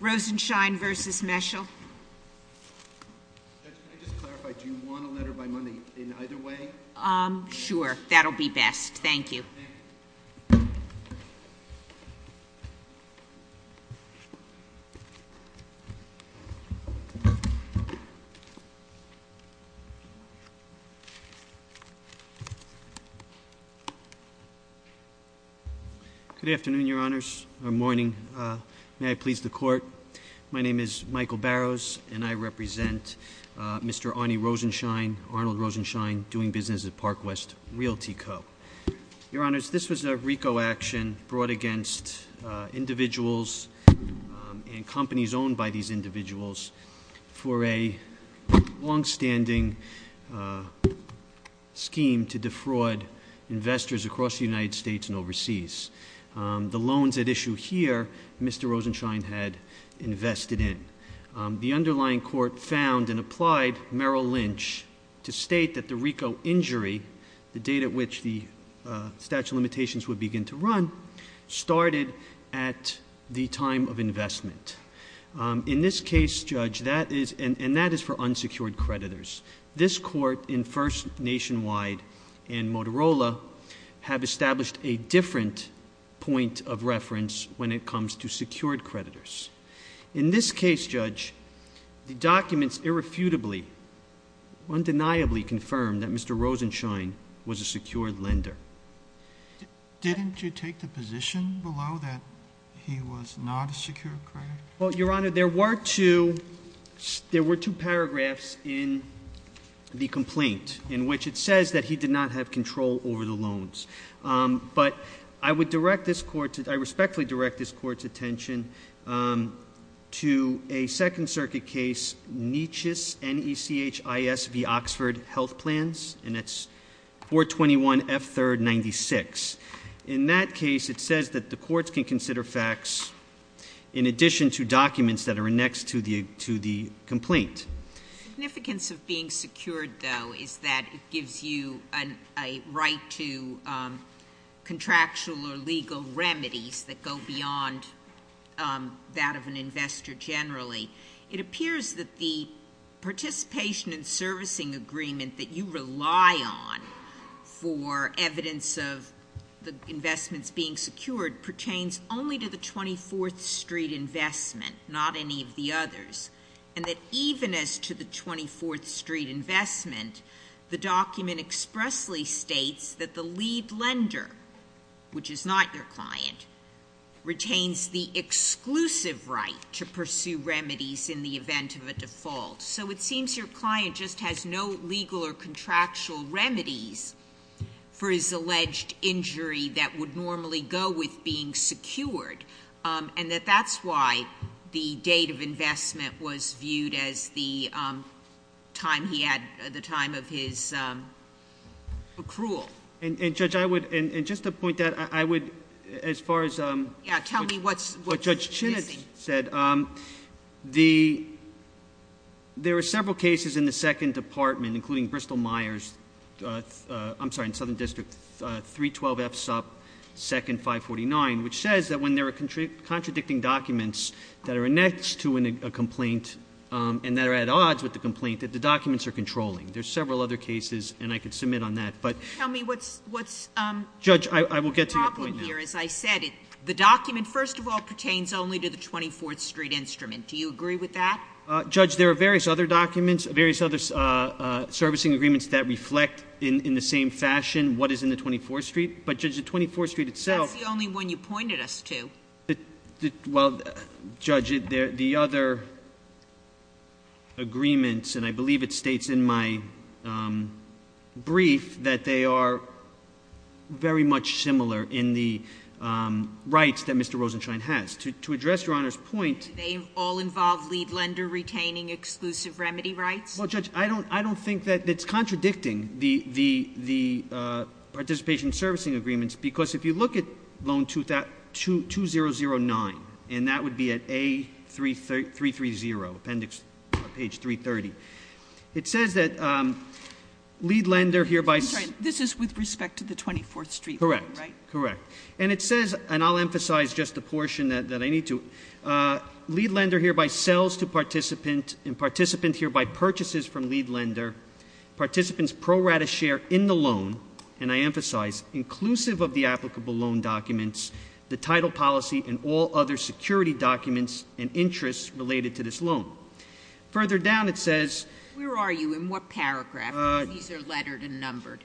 Rosenshein v. Meschel Judge, can I just clarify, do you want a letter by money in either way? Sure, that'll be best. Thank you. Good afternoon, Your Honors. Good morning. May I please the Court? My name is Michael Barrows, and I represent Mr. Arnie Rosenshein, Arnold Rosenshein, doing business at Parkwest Realty Co. Your Honors, this was a RICO action brought against individuals and companies owned by these individuals for a longstanding scheme to defraud investors across the United States and that issue here, Mr. Rosenshein had invested in. The underlying court found and applied Merrill Lynch to state that the RICO injury, the date at which the statute of limitations would begin to run, started at the time of investment. In this case, Judge, that is and that is for unsecured creditors. This court in First Nationwide and Motorola have established a different point of reference when it comes to secured creditors. In this case, Judge, the documents irrefutably undeniably confirm that Mr. Rosenshein was a secured lender. Didn't you take the position below that he was not a secured creditor? Well, Your Honor, there were two paragraphs in the complaint in which it says that he did not have control over the insurance. I respectfully direct this court's attention to a Second Circuit case, Nechis, N-E-C-H-I-S-V, Oxford Health Plans, and that's 421 F. 3rd 96. In that case, it says that the courts can consider facts in addition to documents that are annexed to the complaint. The significance of being secured, though, is that it gives you a right to contractual or legal remedies that go beyond that of an investor generally. It appears that the participation and servicing agreement that you rely on for evidence of the investments being secured pertains only to the 24th Street investment, not any of the others, and that even as to the 24th Street investment, the document expressly states that the lead lender, which is not your client, retains the exclusive right to pursue remedies in the event of a default. So it seems your client just has no legal or contractual remedies for his alleged injury that would normally go with being secured, and that that's why the date of investment was viewed as the time he had the time of his accrual. And, Judge, I would, and just to point that, I would as far as what Judge Chinitz said, there are several cases in the Second Department, including Bristol-Myers, I'm sorry, Southern District, 312 F. 2nd 549, which says that when there are contradicting documents that are annexed to a complaint and that are at odds with the complaint, that the documents are controlling. There are several other cases, and I could submit on that. Judge, I will get to your point now. The document, first of all, pertains only to the 24th Street instrument. Do you agree with that? Judge, there are various other documents, various other servicing agreements that reflect in the same fashion what is in the 24th Street, but, Judge, the 24th Street itself. That's the only one you pointed us to. Well, Judge, the other agreements, and I believe it states in my brief that they are very much similar in the rights that Mr. Rosenstein has. To address Your Honor's point, Do they all involve lead lender retaining exclusive remedy rights? Well, Judge, I don't think that it's contradicting the participation servicing agreements, because if you look at Loan 2009, and that would be at A330, Appendix 330, it says that lead lender hereby... I'm sorry, this is with respect to the 24th Street loan, right? Correct. And it says, and I'll emphasize just a portion that I need to, lead lender hereby sells to participant, and participant hereby purchases from lead lender, participant's pro rata share in the loan, and I emphasize, inclusive of the applicable loan documents, the title policy, and all other security documents and interests related to this loan. Further down, it says... Where are you? In what paragraph? These are lettered and numbered.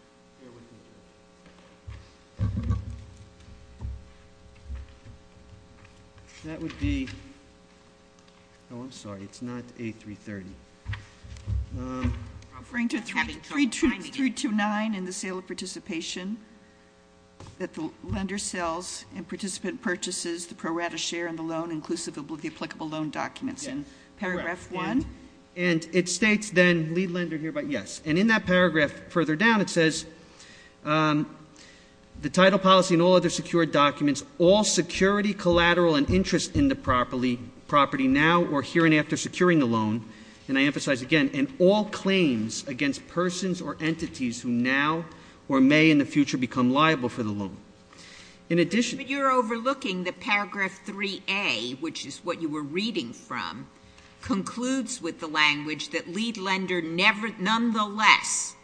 That would be... Oh, I'm sorry. It's not A330. Referring to 329 in the sale of participation, that the lender sells and participant purchases the pro rata share in the loan, inclusive of the applicable loan documents. Paragraph one. And it states then, lead lender hereby... Yes. And in that paragraph, further down, it says the title policy and all other secured documents, all security, collateral, and interest in the property now or here and after securing the loan, and I emphasize again, and all claims against persons or entities who now or may in the future become liable for the loan. In addition... But you're overlooking the paragraph 3A, which is what you were reading from, concludes with the language that lead lender nonetheless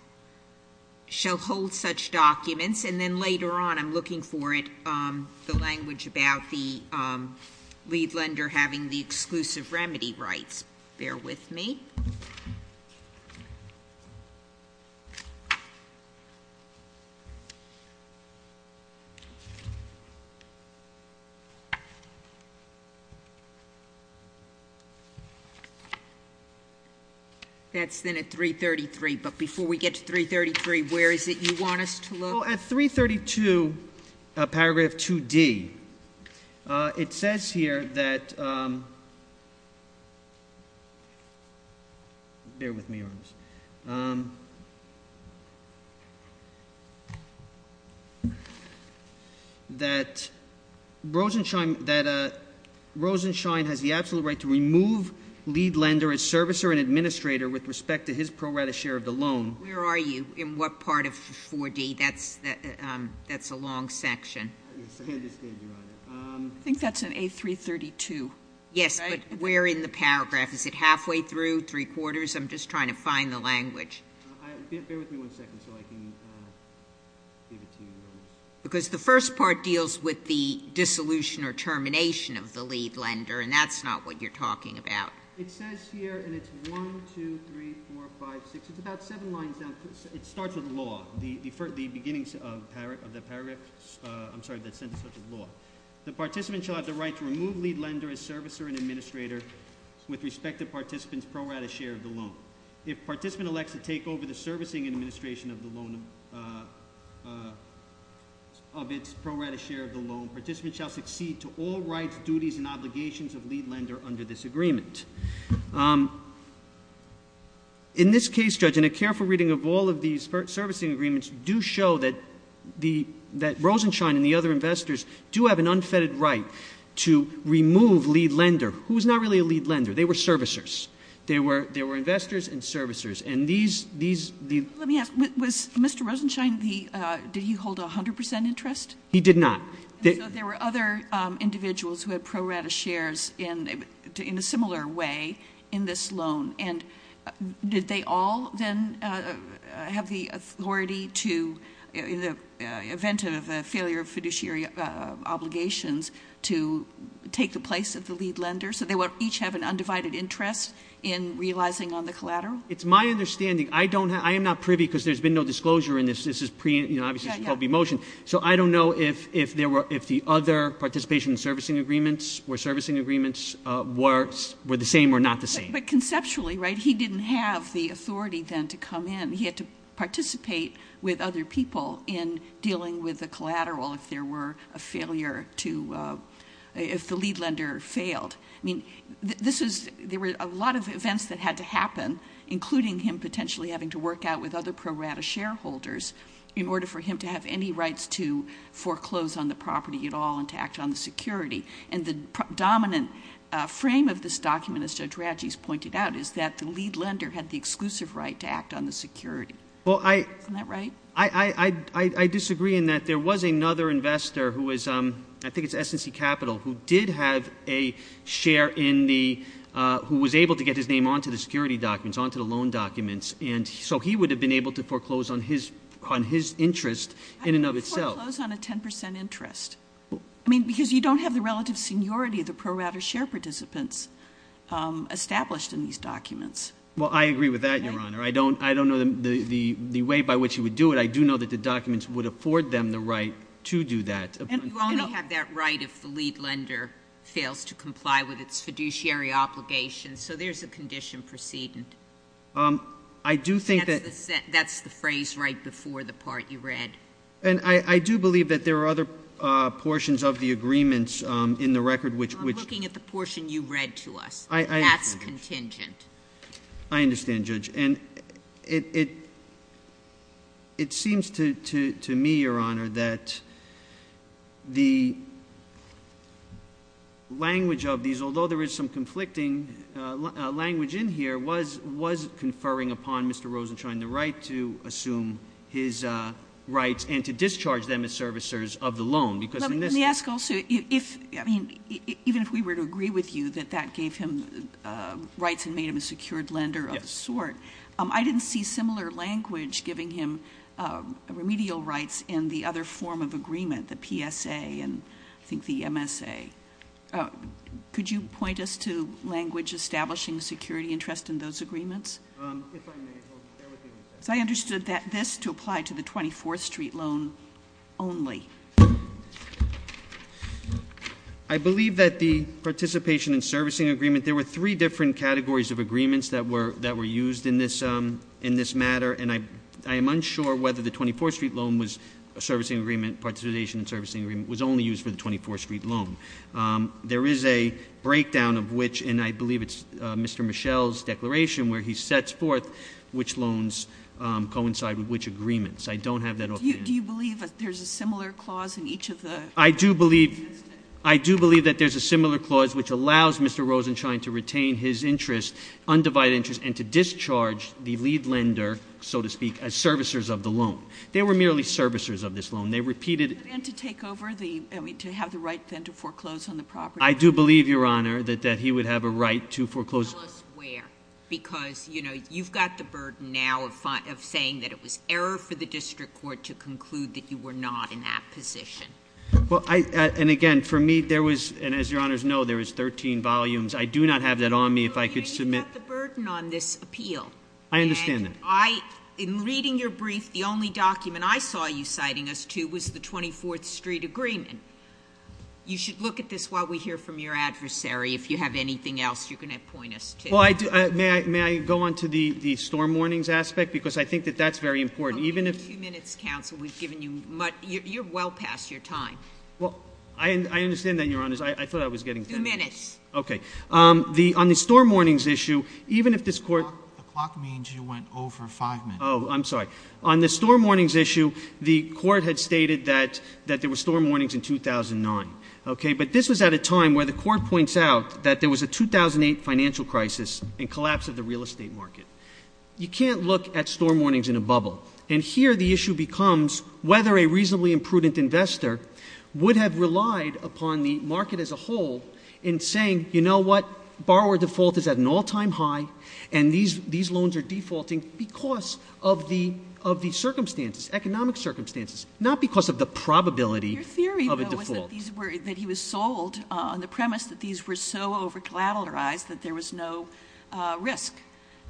shall hold such documents, and then later on, I'm looking for it, the language about the lead lender having the exclusive remedy rights. Bear with me. That's then at 333. But before we get to 333, where is it you want us to look? Well, at 332, paragraph 2D, it says here that... Bear with me. That Rosenshine has the absolute right to remove lead lender as servicer and administrator with respect to his pro rata share of the loan. Where are you? In what part of 4D? That's a long section. I think that's in A332. Yes, but where in the paragraph? Is it halfway through, three quarters? I'm just trying to find the language. Bear with me one second so I can give it to you. Because the first part deals with the dissolution or termination of the lead lender, and that's not what you're talking about. It says here, and it's 1, 2, 3, 4, 5, 6, it's about seven lines down. It starts with law. The beginning of the paragraph, I'm sorry, the sentence starts with law. The participant shall have the right to remove lead lender as servicer and administrator with respect to participant's pro rata share of the loan. If participant elects to take over the servicing and administration of the loan of its pro rata share of the loan, participant shall succeed to all rights, duties, and obligations of lead lender under this agreement. In this case, Judge, and a careful reading of all of these servicing agreements do show that Rosenshine and the other investors do have an unfettered right to take the place of the lead lender. They were servicers. There were investors and servicers. Let me ask, did Mr. Rosenshine hold 100% interest? He did not. There were other individuals who had pro rata shares in a similar way in this loan. Did they all then have the authority to, in the event of a failure of fiduciary obligations, to take the place of the lead lender? So they would each have an undivided interest in realizing on the collateral? It's my understanding. I am not privy because there's been no disclosure in this. This is obviously called the motion. So I don't know if the other participation servicing agreements were the same or not the same. But conceptually, right, he didn't have the authority then to come in. He had to participate with other people in case there were a failure to, if the lead lender failed. I mean, this is, there were a lot of events that had to happen including him potentially having to work out with other pro rata shareholders in order for him to have any rights to foreclose on the property at all and to act on the security. And the dominant frame of this document, as Judge Radjies pointed out, is that the lead lender had the exclusive right to act on the security. Isn't that right? I disagree in that there was another investor who was I think it's S&C Capital, who did have a share in the, who was able to get his name onto the security documents, onto the loan documents and so he would have been able to foreclose on his interest in and of itself. I can't foreclose on a 10% interest. I mean, because you don't have the relative seniority of the pro rata share participants established in these documents. Well, I agree with that, Your Honor. I don't know the way by which he would do it. I do know that the documents would afford them the right to do that. And you only have that right if the lead lender fails to comply with its fiduciary obligations. So there's a condition precedent. I do think that That's the phrase right before the part you read. And I do believe that there are other portions of the agreements in the record which I'm looking at the portion you read to us. That's contingent. I understand, Judge. And it seems to me, Your Honor, that the language of these although there is some conflicting language in here was conferring upon Mr. Rosenstein the right to assume his rights and to discharge them as servicers of the loan. Because in this case Let me ask also, even if we were to agree with you that that gave him rights and made him a secured lender of a sort, I didn't see similar language giving him remedial rights in the other form of agreement, the PSA and I think the MSA. Could you point us to language establishing a security interest in those agreements? If I may, I'll stay with you on that. I understood this to apply to the 24th Street loan only. I believe that the There are three different categories of agreements that were used in this matter, and I am unsure whether the 24th Street loan was a servicing agreement, participation in servicing agreement, was only used for the 24th Street loan. There is a breakdown of which, and I believe it's Mr. Michel's declaration where he sets forth which loans coincide with which agreements. I don't have that offhand. Do you believe that there's a similar clause in each of the agreements? I do believe that there's a similar clause which allows Mr. Rosenstein to retain his interest, undivided interest, and to discharge the lead lender, so to speak, as servicers of the loan. They were merely servicers of this loan. They repeated And to have the right then to foreclose on the property? I do believe, Your Honor, that he would have a right to foreclose. Tell us where, because you've got the burden now of saying that it was error for the district court to conclude that you were not in that position. Well, and again, for me, there was, and as Your Honors know, there was 13 volumes. I do not have that on me if I could submit... You've got the burden on this appeal. I understand that. And I, in reading your brief, the only document I saw you citing us to was the 24th Street agreement. You should look at this while we hear from your adversary. If you have anything else, you can point us to it. May I go on to the storm warnings aspect? Because I think that that's very important. Even if... In a few minutes, Counsel, we've well past your time. Well, I understand that, Your Honors. I thought I was getting... Two minutes. Okay. On the storm warnings issue, even if this Court... The clock means you went over five minutes. Oh, I'm sorry. On the storm warnings issue, the Court had stated that there were storm warnings in 2009, okay? But this was at a time where the Court points out that there was a 2008 financial crisis and collapse of the real estate market. You can't look at storm warnings in a bubble. And here the issue becomes whether a reasonably imprudent investor would have relied upon the market as a whole in saying, you know what, borrower default is at an all-time high, and these loans are defaulting because of the circumstances, economic circumstances, not because of the probability of a default. Your theory, though, was that he was sold on the premise that these were so over-collateralized that there was no risk.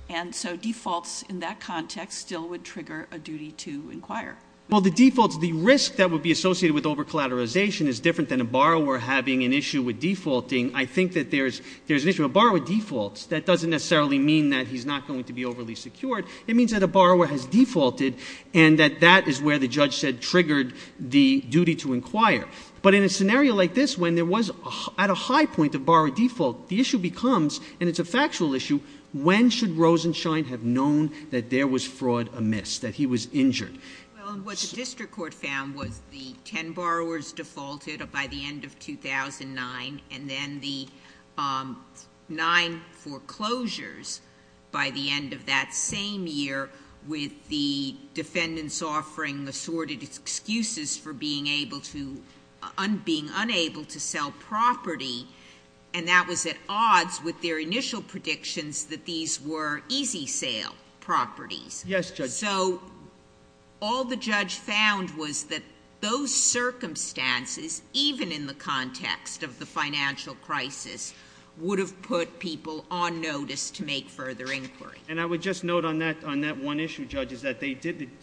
And so defaults in that context still would trigger a duty to inquire. Well, the defaults, the risk that would be associated with over-collateralization is different than a borrower having an issue with defaulting. I think that there's an issue. A borrower defaults. That doesn't necessarily mean that he's not going to be overly secured. It means that a borrower has defaulted and that that is where the judge said triggered the duty to inquire. But in a scenario like this, when there was, at a high point, a borrower default, the issue becomes, and it's a factual issue, when should Rosenstein have known that there was fraud amiss, that he was injured? Well, what the District Court found was the ten borrowers defaulted by the end of 2009, and then the nine foreclosures by the end of that same year with the defendants offering assorted excuses for being unable to sell property, and that was at odds with their initial predictions that these were easy-sale properties. Yes, Judge. So all the judge found was that those circumstances, even in the context of the financial crisis, would have put people on notice to make further inquiry. And I would just note on that one issue, Judge, is that the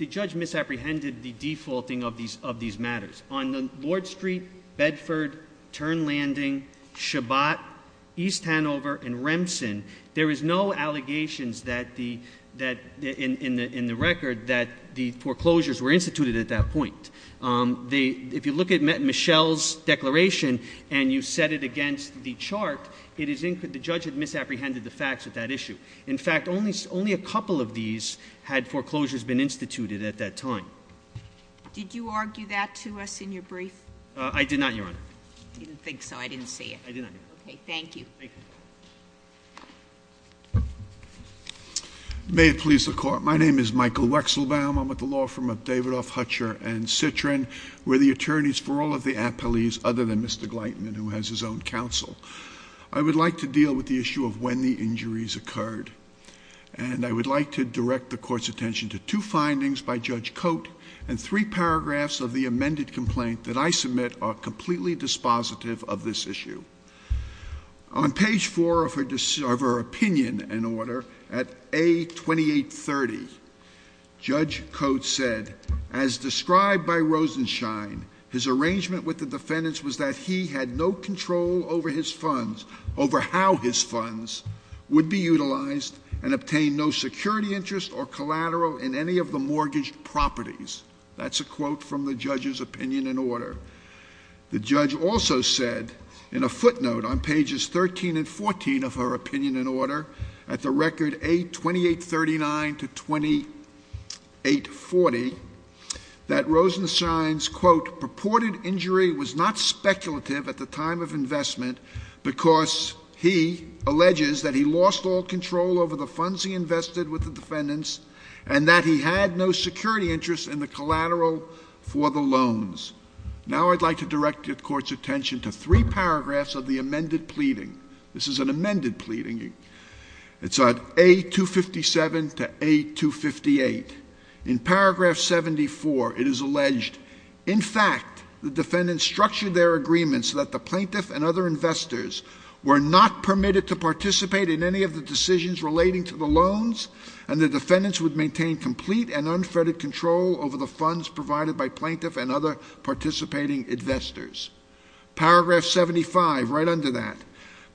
judge misapprehended the defaulting of these matters. On Lord Street, Bedford, Turn Landing, Shabbat, East Hanover, and Remson, there is no allegations in the record that the foreclosures were instituted at that point. If you look at Michelle's declaration, and you set it against the chart, the judge had misapprehended the facts of that issue. In fact, only a couple of these had foreclosures been instituted at that time. Did you argue that to us in your brief? I did not, Your Honor. I didn't think so. I didn't see it. I did not hear it. Okay. Thank you. Thank you. May it please the Court. My name is Michael Wechselbaum. I'm with the law firm of Davidoff, Hutcher & Citrin. We're the attorneys for all of the appellees other than Mr. Gleitman, who has his own counsel. I would like to deal with the issue of when the injuries occurred. And I would like to direct the Court's attention to two findings by Judge Cote and three paragraphs of the amended complaint that I submit are completely dispositive of this issue. On page four of her opinion and order, at A2830, Judge Cote said, "...as described by Rosenshine, his arrangement with the defendants was that he had no control over how his funds would be utilized and obtain no security interest or collateral in any of the mortgaged properties." That's a quote from the judge's opinion and order. The judge also said, in a footnote on pages 13 and 14 of her opinion and order, at the record A2839 to 2840, that Rosenshine's, quote, "...purported injury was not speculative at the time of investment because he alleges that he lost all control over the funds he invested with the defendants and that he had no security interest in the collateral for the loans." Now I'd like to direct the Court's attention to three paragraphs of the amended pleading. This is an amended pleading. It's at A257 to A258. In paragraph 74, it is alleged, "...in fact, the defendants structured their agreement so that the plaintiff and other investors were not permitted to participate in any of the decisions relating to the loans and the defendants would maintain complete and unfettered control over the funds provided by plaintiff and other participating investors." Paragraph 75, right under that,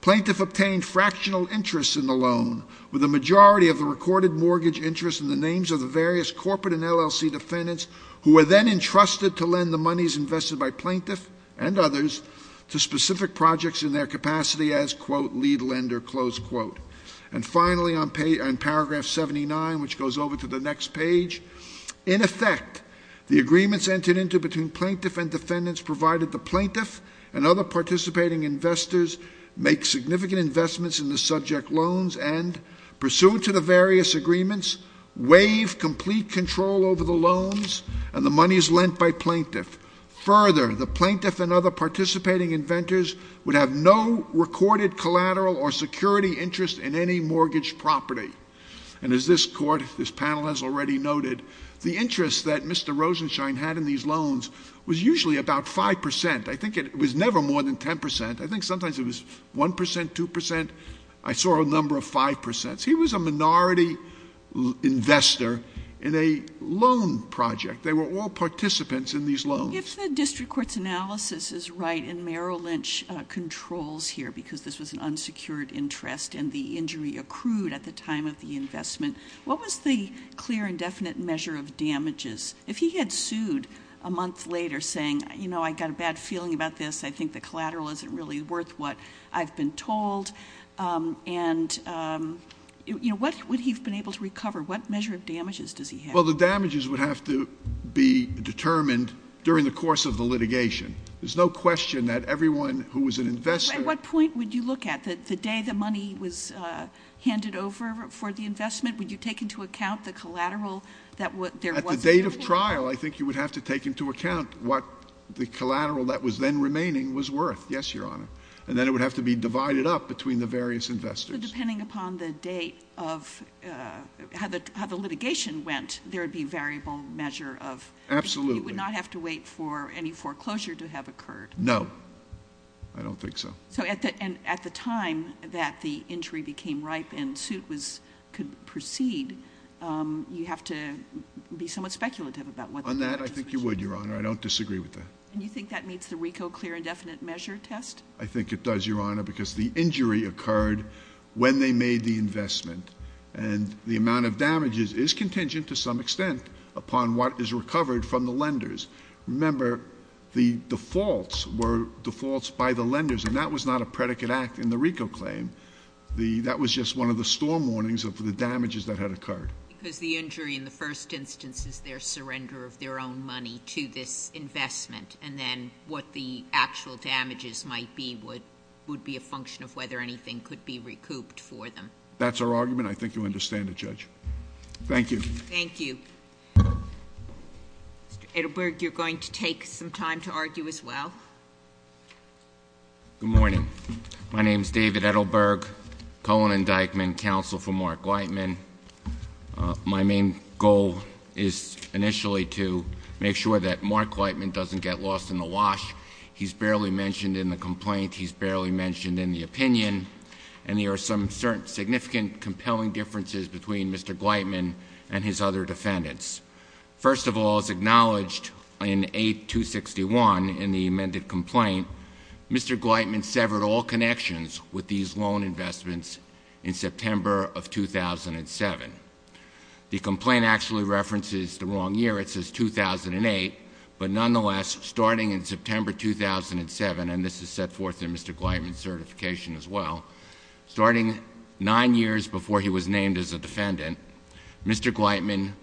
"...plaintiff obtained fractional interest in the loan with the majority of the recorded mortgage interest in the names of the various corporate and LLC defendants who were then entrusted to lend the monies invested by plaintiff and others to specific projects in their capacity as, quote, lead lender." And finally, in paragraph 79, which goes over to the next page, "...in effect, the agreements entered into between plaintiff and defendants provided the plaintiff and other participating investors make significant investments in the subject loans and, pursuant to the various agreements, waive complete control over the loans and the monies lent by plaintiff. Further, the plaintiff and other participating inventors would have no recorded collateral or security interest in any mortgage property." And as this Court, this panel has already noted, the interest that Mr. Rosenstein had in these loans was usually about 5 percent. I think it was never more than 10 percent. I think sometimes it was 1 percent, 2 percent. I saw a number of 5 percents. He was a minority investor in a loan project. They were all participants in these loans. If the District Court's analysis is right and Merrill Lynch controls here because this was an unsecured interest and the investment, what was the clear and definite measure of damages? If he had sued a month later saying, you know, I got a bad feeling about this, I think the collateral isn't really worth what I've been told and, you know, what would he have been able to recover? What measure of damages does he have? Well, the damages would have to be determined during the course of the litigation. There's no question that everyone who was an investor... At what point would you look at the day the money was invested? Would you take into account the collateral that there was? At the date of trial, I think you would have to take into account what the collateral that was then remaining was worth. Yes, Your Honor. And then it would have to be divided up between the various investors. So depending upon the date of how the litigation went, there would be variable measure of... Absolutely. You would not have to wait for any foreclosure to have occurred. No. I don't think so. So at the time that the injury became ripe and suit could proceed, you have to be somewhat speculative about what... On that, I think you would, Your Honor. I don't disagree with that. And you think that meets the RICO clear and definite measure test? I think it does, Your Honor, because the injury occurred when they made the investment and the amount of damages is contingent to some extent upon what is recovered from the lenders. Remember, the defaults were defaults by the lenders and that was not a predicate act in the RICO claim. That was just one of the storm warnings of the damages that had occurred. Because the injury in the first instance is their surrender of their own money to this investment and then what the actual damages might be would be a function of whether anything could be recouped for them. That's our argument. I think you understand it, Judge. Thank you. Thank you. Mr. Edelberg, you're going to take some time to argue as well? Good morning. My name is David Edelberg, Cohen Indictment Counsel for Mark Gleitman. My main goal is initially to make sure that Mark Gleitman doesn't get lost in the wash. He's barely mentioned in the complaint. He's barely mentioned in the opinion. And there are some significant, compelling differences between Mr. Gleitman and his other defendants. First of all, it's acknowledged in 8261 in the amended complaint, Mr. Gleitman severed all connections with these loan investments in September of 2007. The complaint actually references the wrong year. It says 2008. But nonetheless, starting in September 2007, and this is set forth in Mr. Gleitman's certification as well, starting nine years before he was named as a defendant, Mr. Gleitman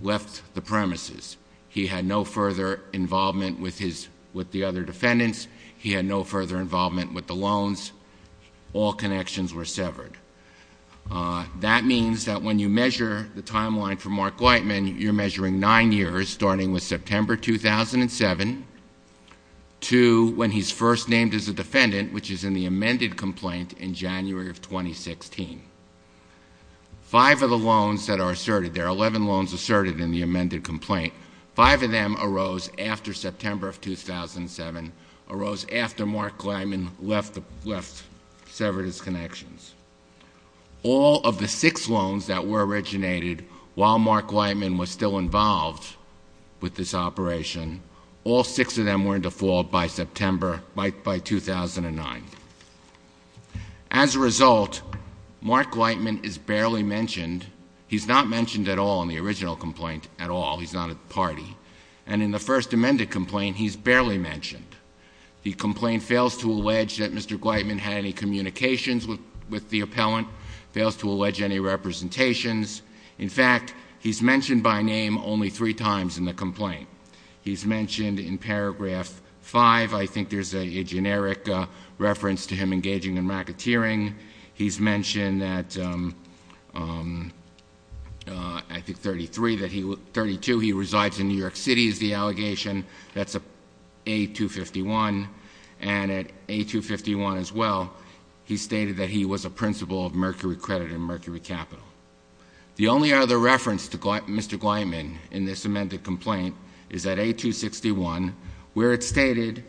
left the premises. He had no further involvement with the other defendants. He had no further involvement with the loans. All connections were severed. That means that when you measure the timeline for Mark Gleitman, you're measuring nine years, starting with September 2007 to when he's first named as a defendant, which is in the amended complaint in January of 2016. Five of the loans that are asserted, there are 11 loans asserted in the amended complaint, five of them arose after September of 2007, arose after Mark Gleitman left severed his connections. All of the six loans that were originated while Mark Gleitman was still involved with this operation, all six of them were in default by September, by 2009. As a result, Mark Gleitman is barely mentioned. He's not mentioned at all in the original complaint at all. He's not a party. And in the first amended complaint, he's barely mentioned. The complaint fails to allege that Mr. Gleitman had any communications with the appellant, fails to allege any representations. In fact, he's mentioned by name only three times in the complaint. He's mentioned in paragraph five, I think there's a generic reference to him engaging in racketeering. He's mentioned that, I think, 32, he resides in New York City is the allegation. That's A251. And at A251 as well, he stated that he was a principal of Mercury Credit and Mercury Capital. The only other reference to Mr. Gleitman in this amended complaint is at A261, where it's stated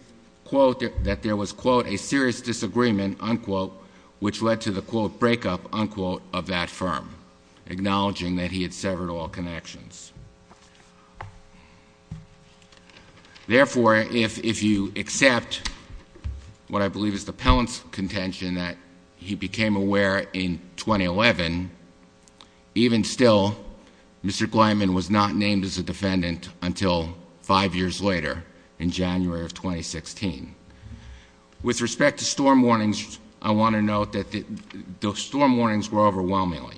that there was, quote, a serious disagreement, unquote, which led to the, quote, breakup, unquote, of that firm, acknowledging that he had severed all connections. Therefore, if you accept what I believe is the appellant's contention that he became aware in 2011, even still, Mr. Gleitman was not named as a defendant until five years later, in January of 2016. With respect to storm warnings, I want to note that the storm warnings were overwhelming.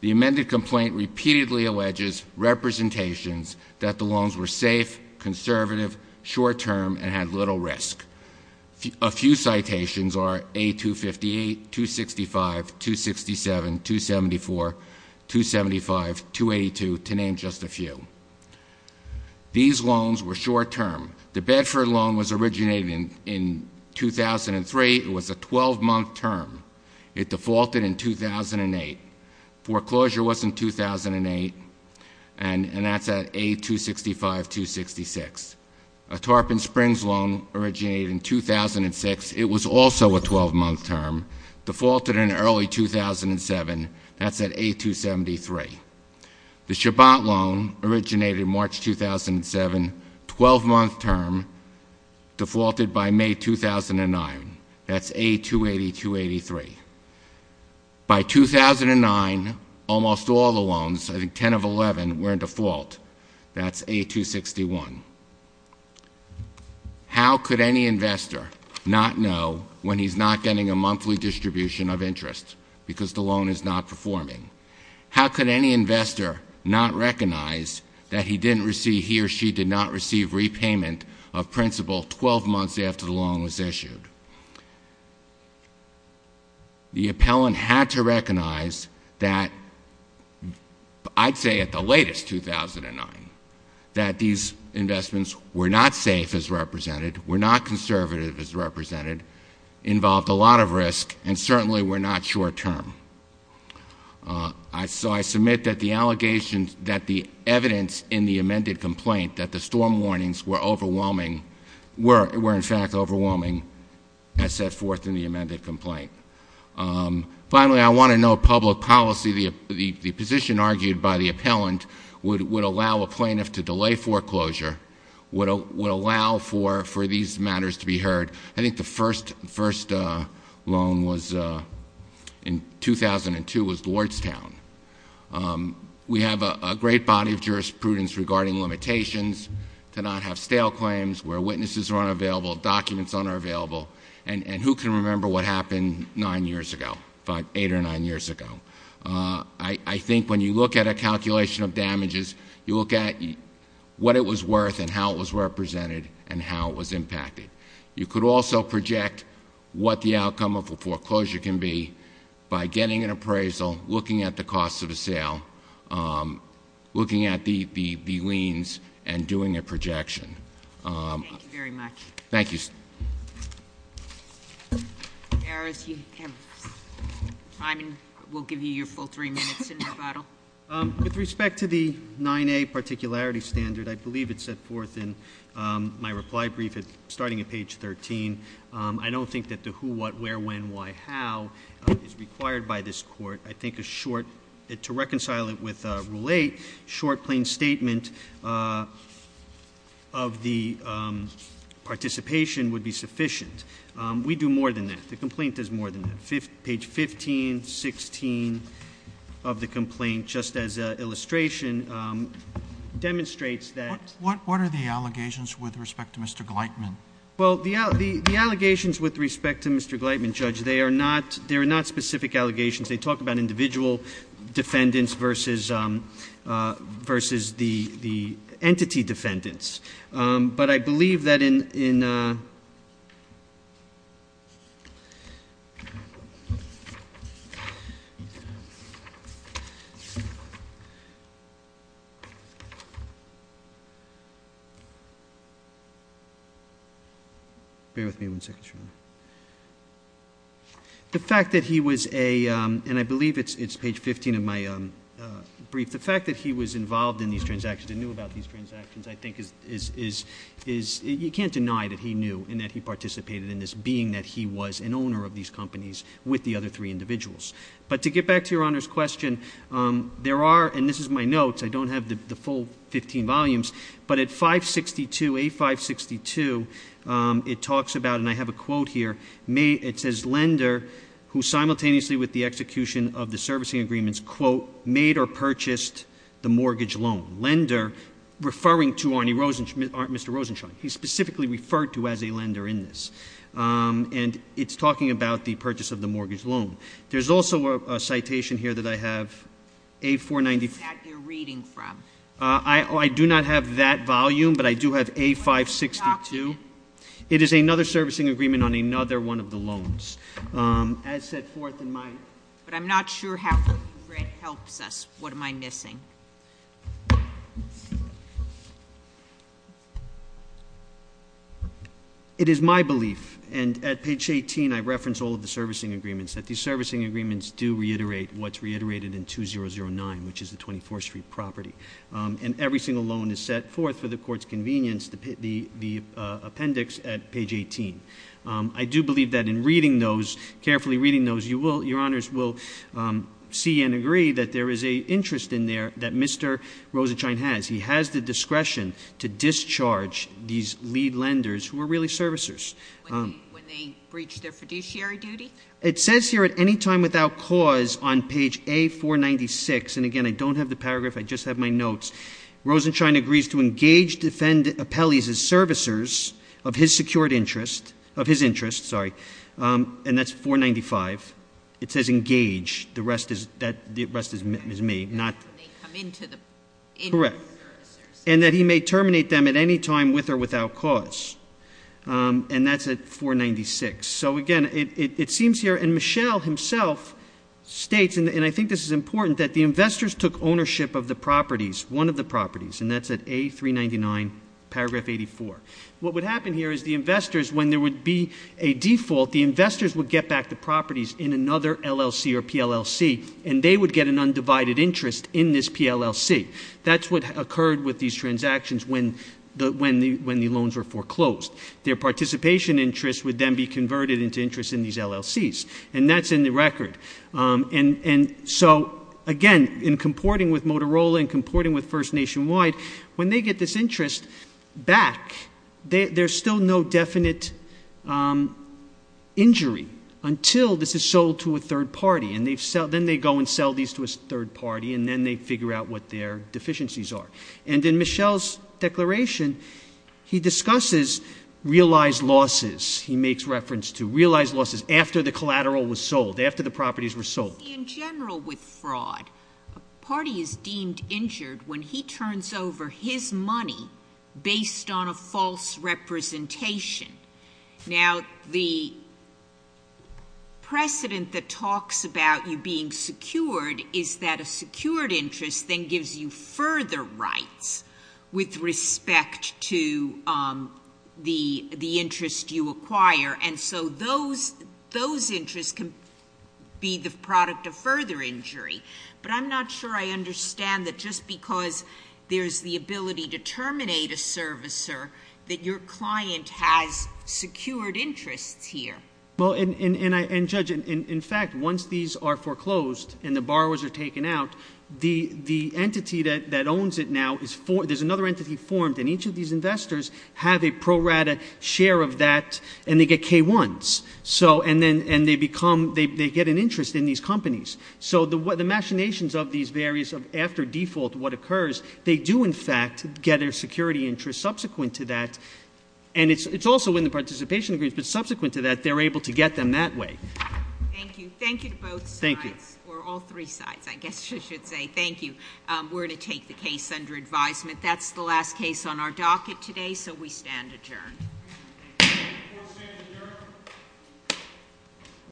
The amended complaint repeatedly alleges representations that the loans were safe, conservative, short-term, and had little risk. A few citations are A258, 265, 267, 274, 275, 282, to name just a few. These loans were short-term. The Bedford loan was originated in 2003. It was a 12-month term. It defaulted in 2008. Foreclosure was in 2008, and that's at A265, 266. A Tarpon Springs loan originated in 2006. It was also a 12-month term, defaulted in early 2007. That's at A273. The Shabbat loan originated in March 2007, 12-month term, defaulted by May 2009. That's A280, 283. By 2009, almost all the loans, I think 10 of 11, were in default. That's A261. How could any investor not know when he's not getting a monthly distribution of interest because the loan is not performing? How could any investor not recognize that he didn't receive, he or she did not receive repayment of principal 12 months after the loan was issued? The appellant had to recognize that, I'd say at the latest, 2009, that these investments were not safe, as represented, were not conservative, as represented, involved a lot of risk, and certainly were not short-term. So I submit that the allegations, that the evidence in the amended complaint, that the storm warnings were overwhelming, were in fact overwhelming, as set forth in the amended complaint. Finally, I want to know public policy. The position argued by the appellant would allow a plaintiff to delay foreclosure, would allow for these matters to be heard. I think the first loan in 2002 was Lordstown. We have a great body of jurisprudence regarding limitations, to not have stale claims where witnesses are unavailable, documents unavailable, and who can remember what happened nine years ago, eight or nine years ago? I think when you look at a calculation of damages, you look at what it was worth and how it was represented and how it was impacted. You could also project what the outcome of a foreclosure can be by getting an appraisal, looking at the cost of a sale, looking at the liens, and doing a projection. Thank you very much. Thank you. We'll give you your full three minutes in rebuttal. With respect to the 9A particularity standard, I believe it's set forth in my reply brief starting at page 13. I don't think that the who, what, where, when, why, how is required by this court. I think to reconcile it with Rule 8, short, plain statement of the participation would be sufficient. We do more than that. The complaint does more than that. Page 15, 16 of the complaint, just as an illustration, demonstrates that. What are the allegations with respect to Mr. Gleitman? The allegations with respect to Mr. Gleitman, Judge, they are not specific allegations. They talk about individual defendants versus the entity defendants. But I believe that in Be with me one second, Your Honor. The fact that he was a, and I believe it's page 15 of my brief, the fact that he was involved in these transactions and knew about these transactions, I think is, you can't deny that he knew and that he participated in this being that he was an owner of these companies with the other three individuals. But to get back to Your Honor's question, there are, and this is my notes, I don't have the full 15 volumes, but at 562, A562, it talks about, and I have a quote here, it says, lender who simultaneously with the execution of the servicing agreements, quote, made or purchased the mortgage loan. Lender, referring to Mr. Rosenstein. He's specifically referred to as a lender in this. And it's talking about the purchase of the mortgage loan. There's also a citation here that I have, A495. I do not have that volume, but I do have A562. It is another servicing agreement on another one of the loans. As set forth in my But I'm not sure how it helps us. What am I missing? It is my belief, and at page 18, I reference all of the servicing agreements, that these servicing agreements do reiterate what's stated in page 18 of page 18. And every single loan is set forth for the court's convenience, the appendix at page 18. I do believe that in reading those, carefully reading those, Your Honors will see and agree that there is an interest in there that Mr. Rosenstein has. He has the discretion to discharge these lead lenders who are really servicers. When they breach their fiduciary duty? It says here, at any time without cause, on page A496, and again, I don't have the paragraph, I just have my notes, Rosenstein agrees to engage, defend appellees as servicers of his secured interest, of his interest, sorry, and that's 495. It says engage. The rest is me. Correct. And that he may terminate them at any time with or without cause. And that's at A399, paragraph 84. And it seems here, and Michelle himself states, and I think this is important, that the investors took ownership of the properties, one of the properties, and that's at A399, paragraph 84. What would happen here is the investors, when there would be a default, the investors would get back the properties in another LLC or PLLC, and they would get an undivided interest in this PLLC. That's what occurred with these transactions when the loans were foreclosed. Their participation interest would then be converted into interest in these LLCs. And that's in the record. And so, again, in comporting with Motorola, in comporting with First Nationwide, when they get this interest back, there's still no definite injury until this is sold to a third party. And then they go and sell these to a third party, and then they figure out what their deficiencies are. And in Michelle's declaration, he discusses realized losses. He makes reference to realized losses after the collateral was sold, after the properties were sold. In general, with fraud, a party is deemed injured when he turns over his money based on a false representation. Now, the precedent that talks about you being secured is that a secured interest then gives you further rights with respect to the interest you acquire. And so those interests can be the product of further injury. But I'm not sure I understand that just because there's the ability to terminate a servicer, that your client has secured interests here. Well, and Judge, in fact, once these are foreclosed and the borrowers are taken out, the there's another entity formed, and each of these investors have a pro-rata share of that, and they get K-1s. And they get an interest in these companies. So the machinations of these various, after default, what occurs, they do, in fact, get a security interest subsequent to that. And it's also in the participation agreements, but subsequent to that, they're able to get them that way. Thank you. Thank you to both sides, or all three sides, I guess you should say. Thank you. We're going to take the case under advisement. That's the last case on our docket today, so we stand adjourned.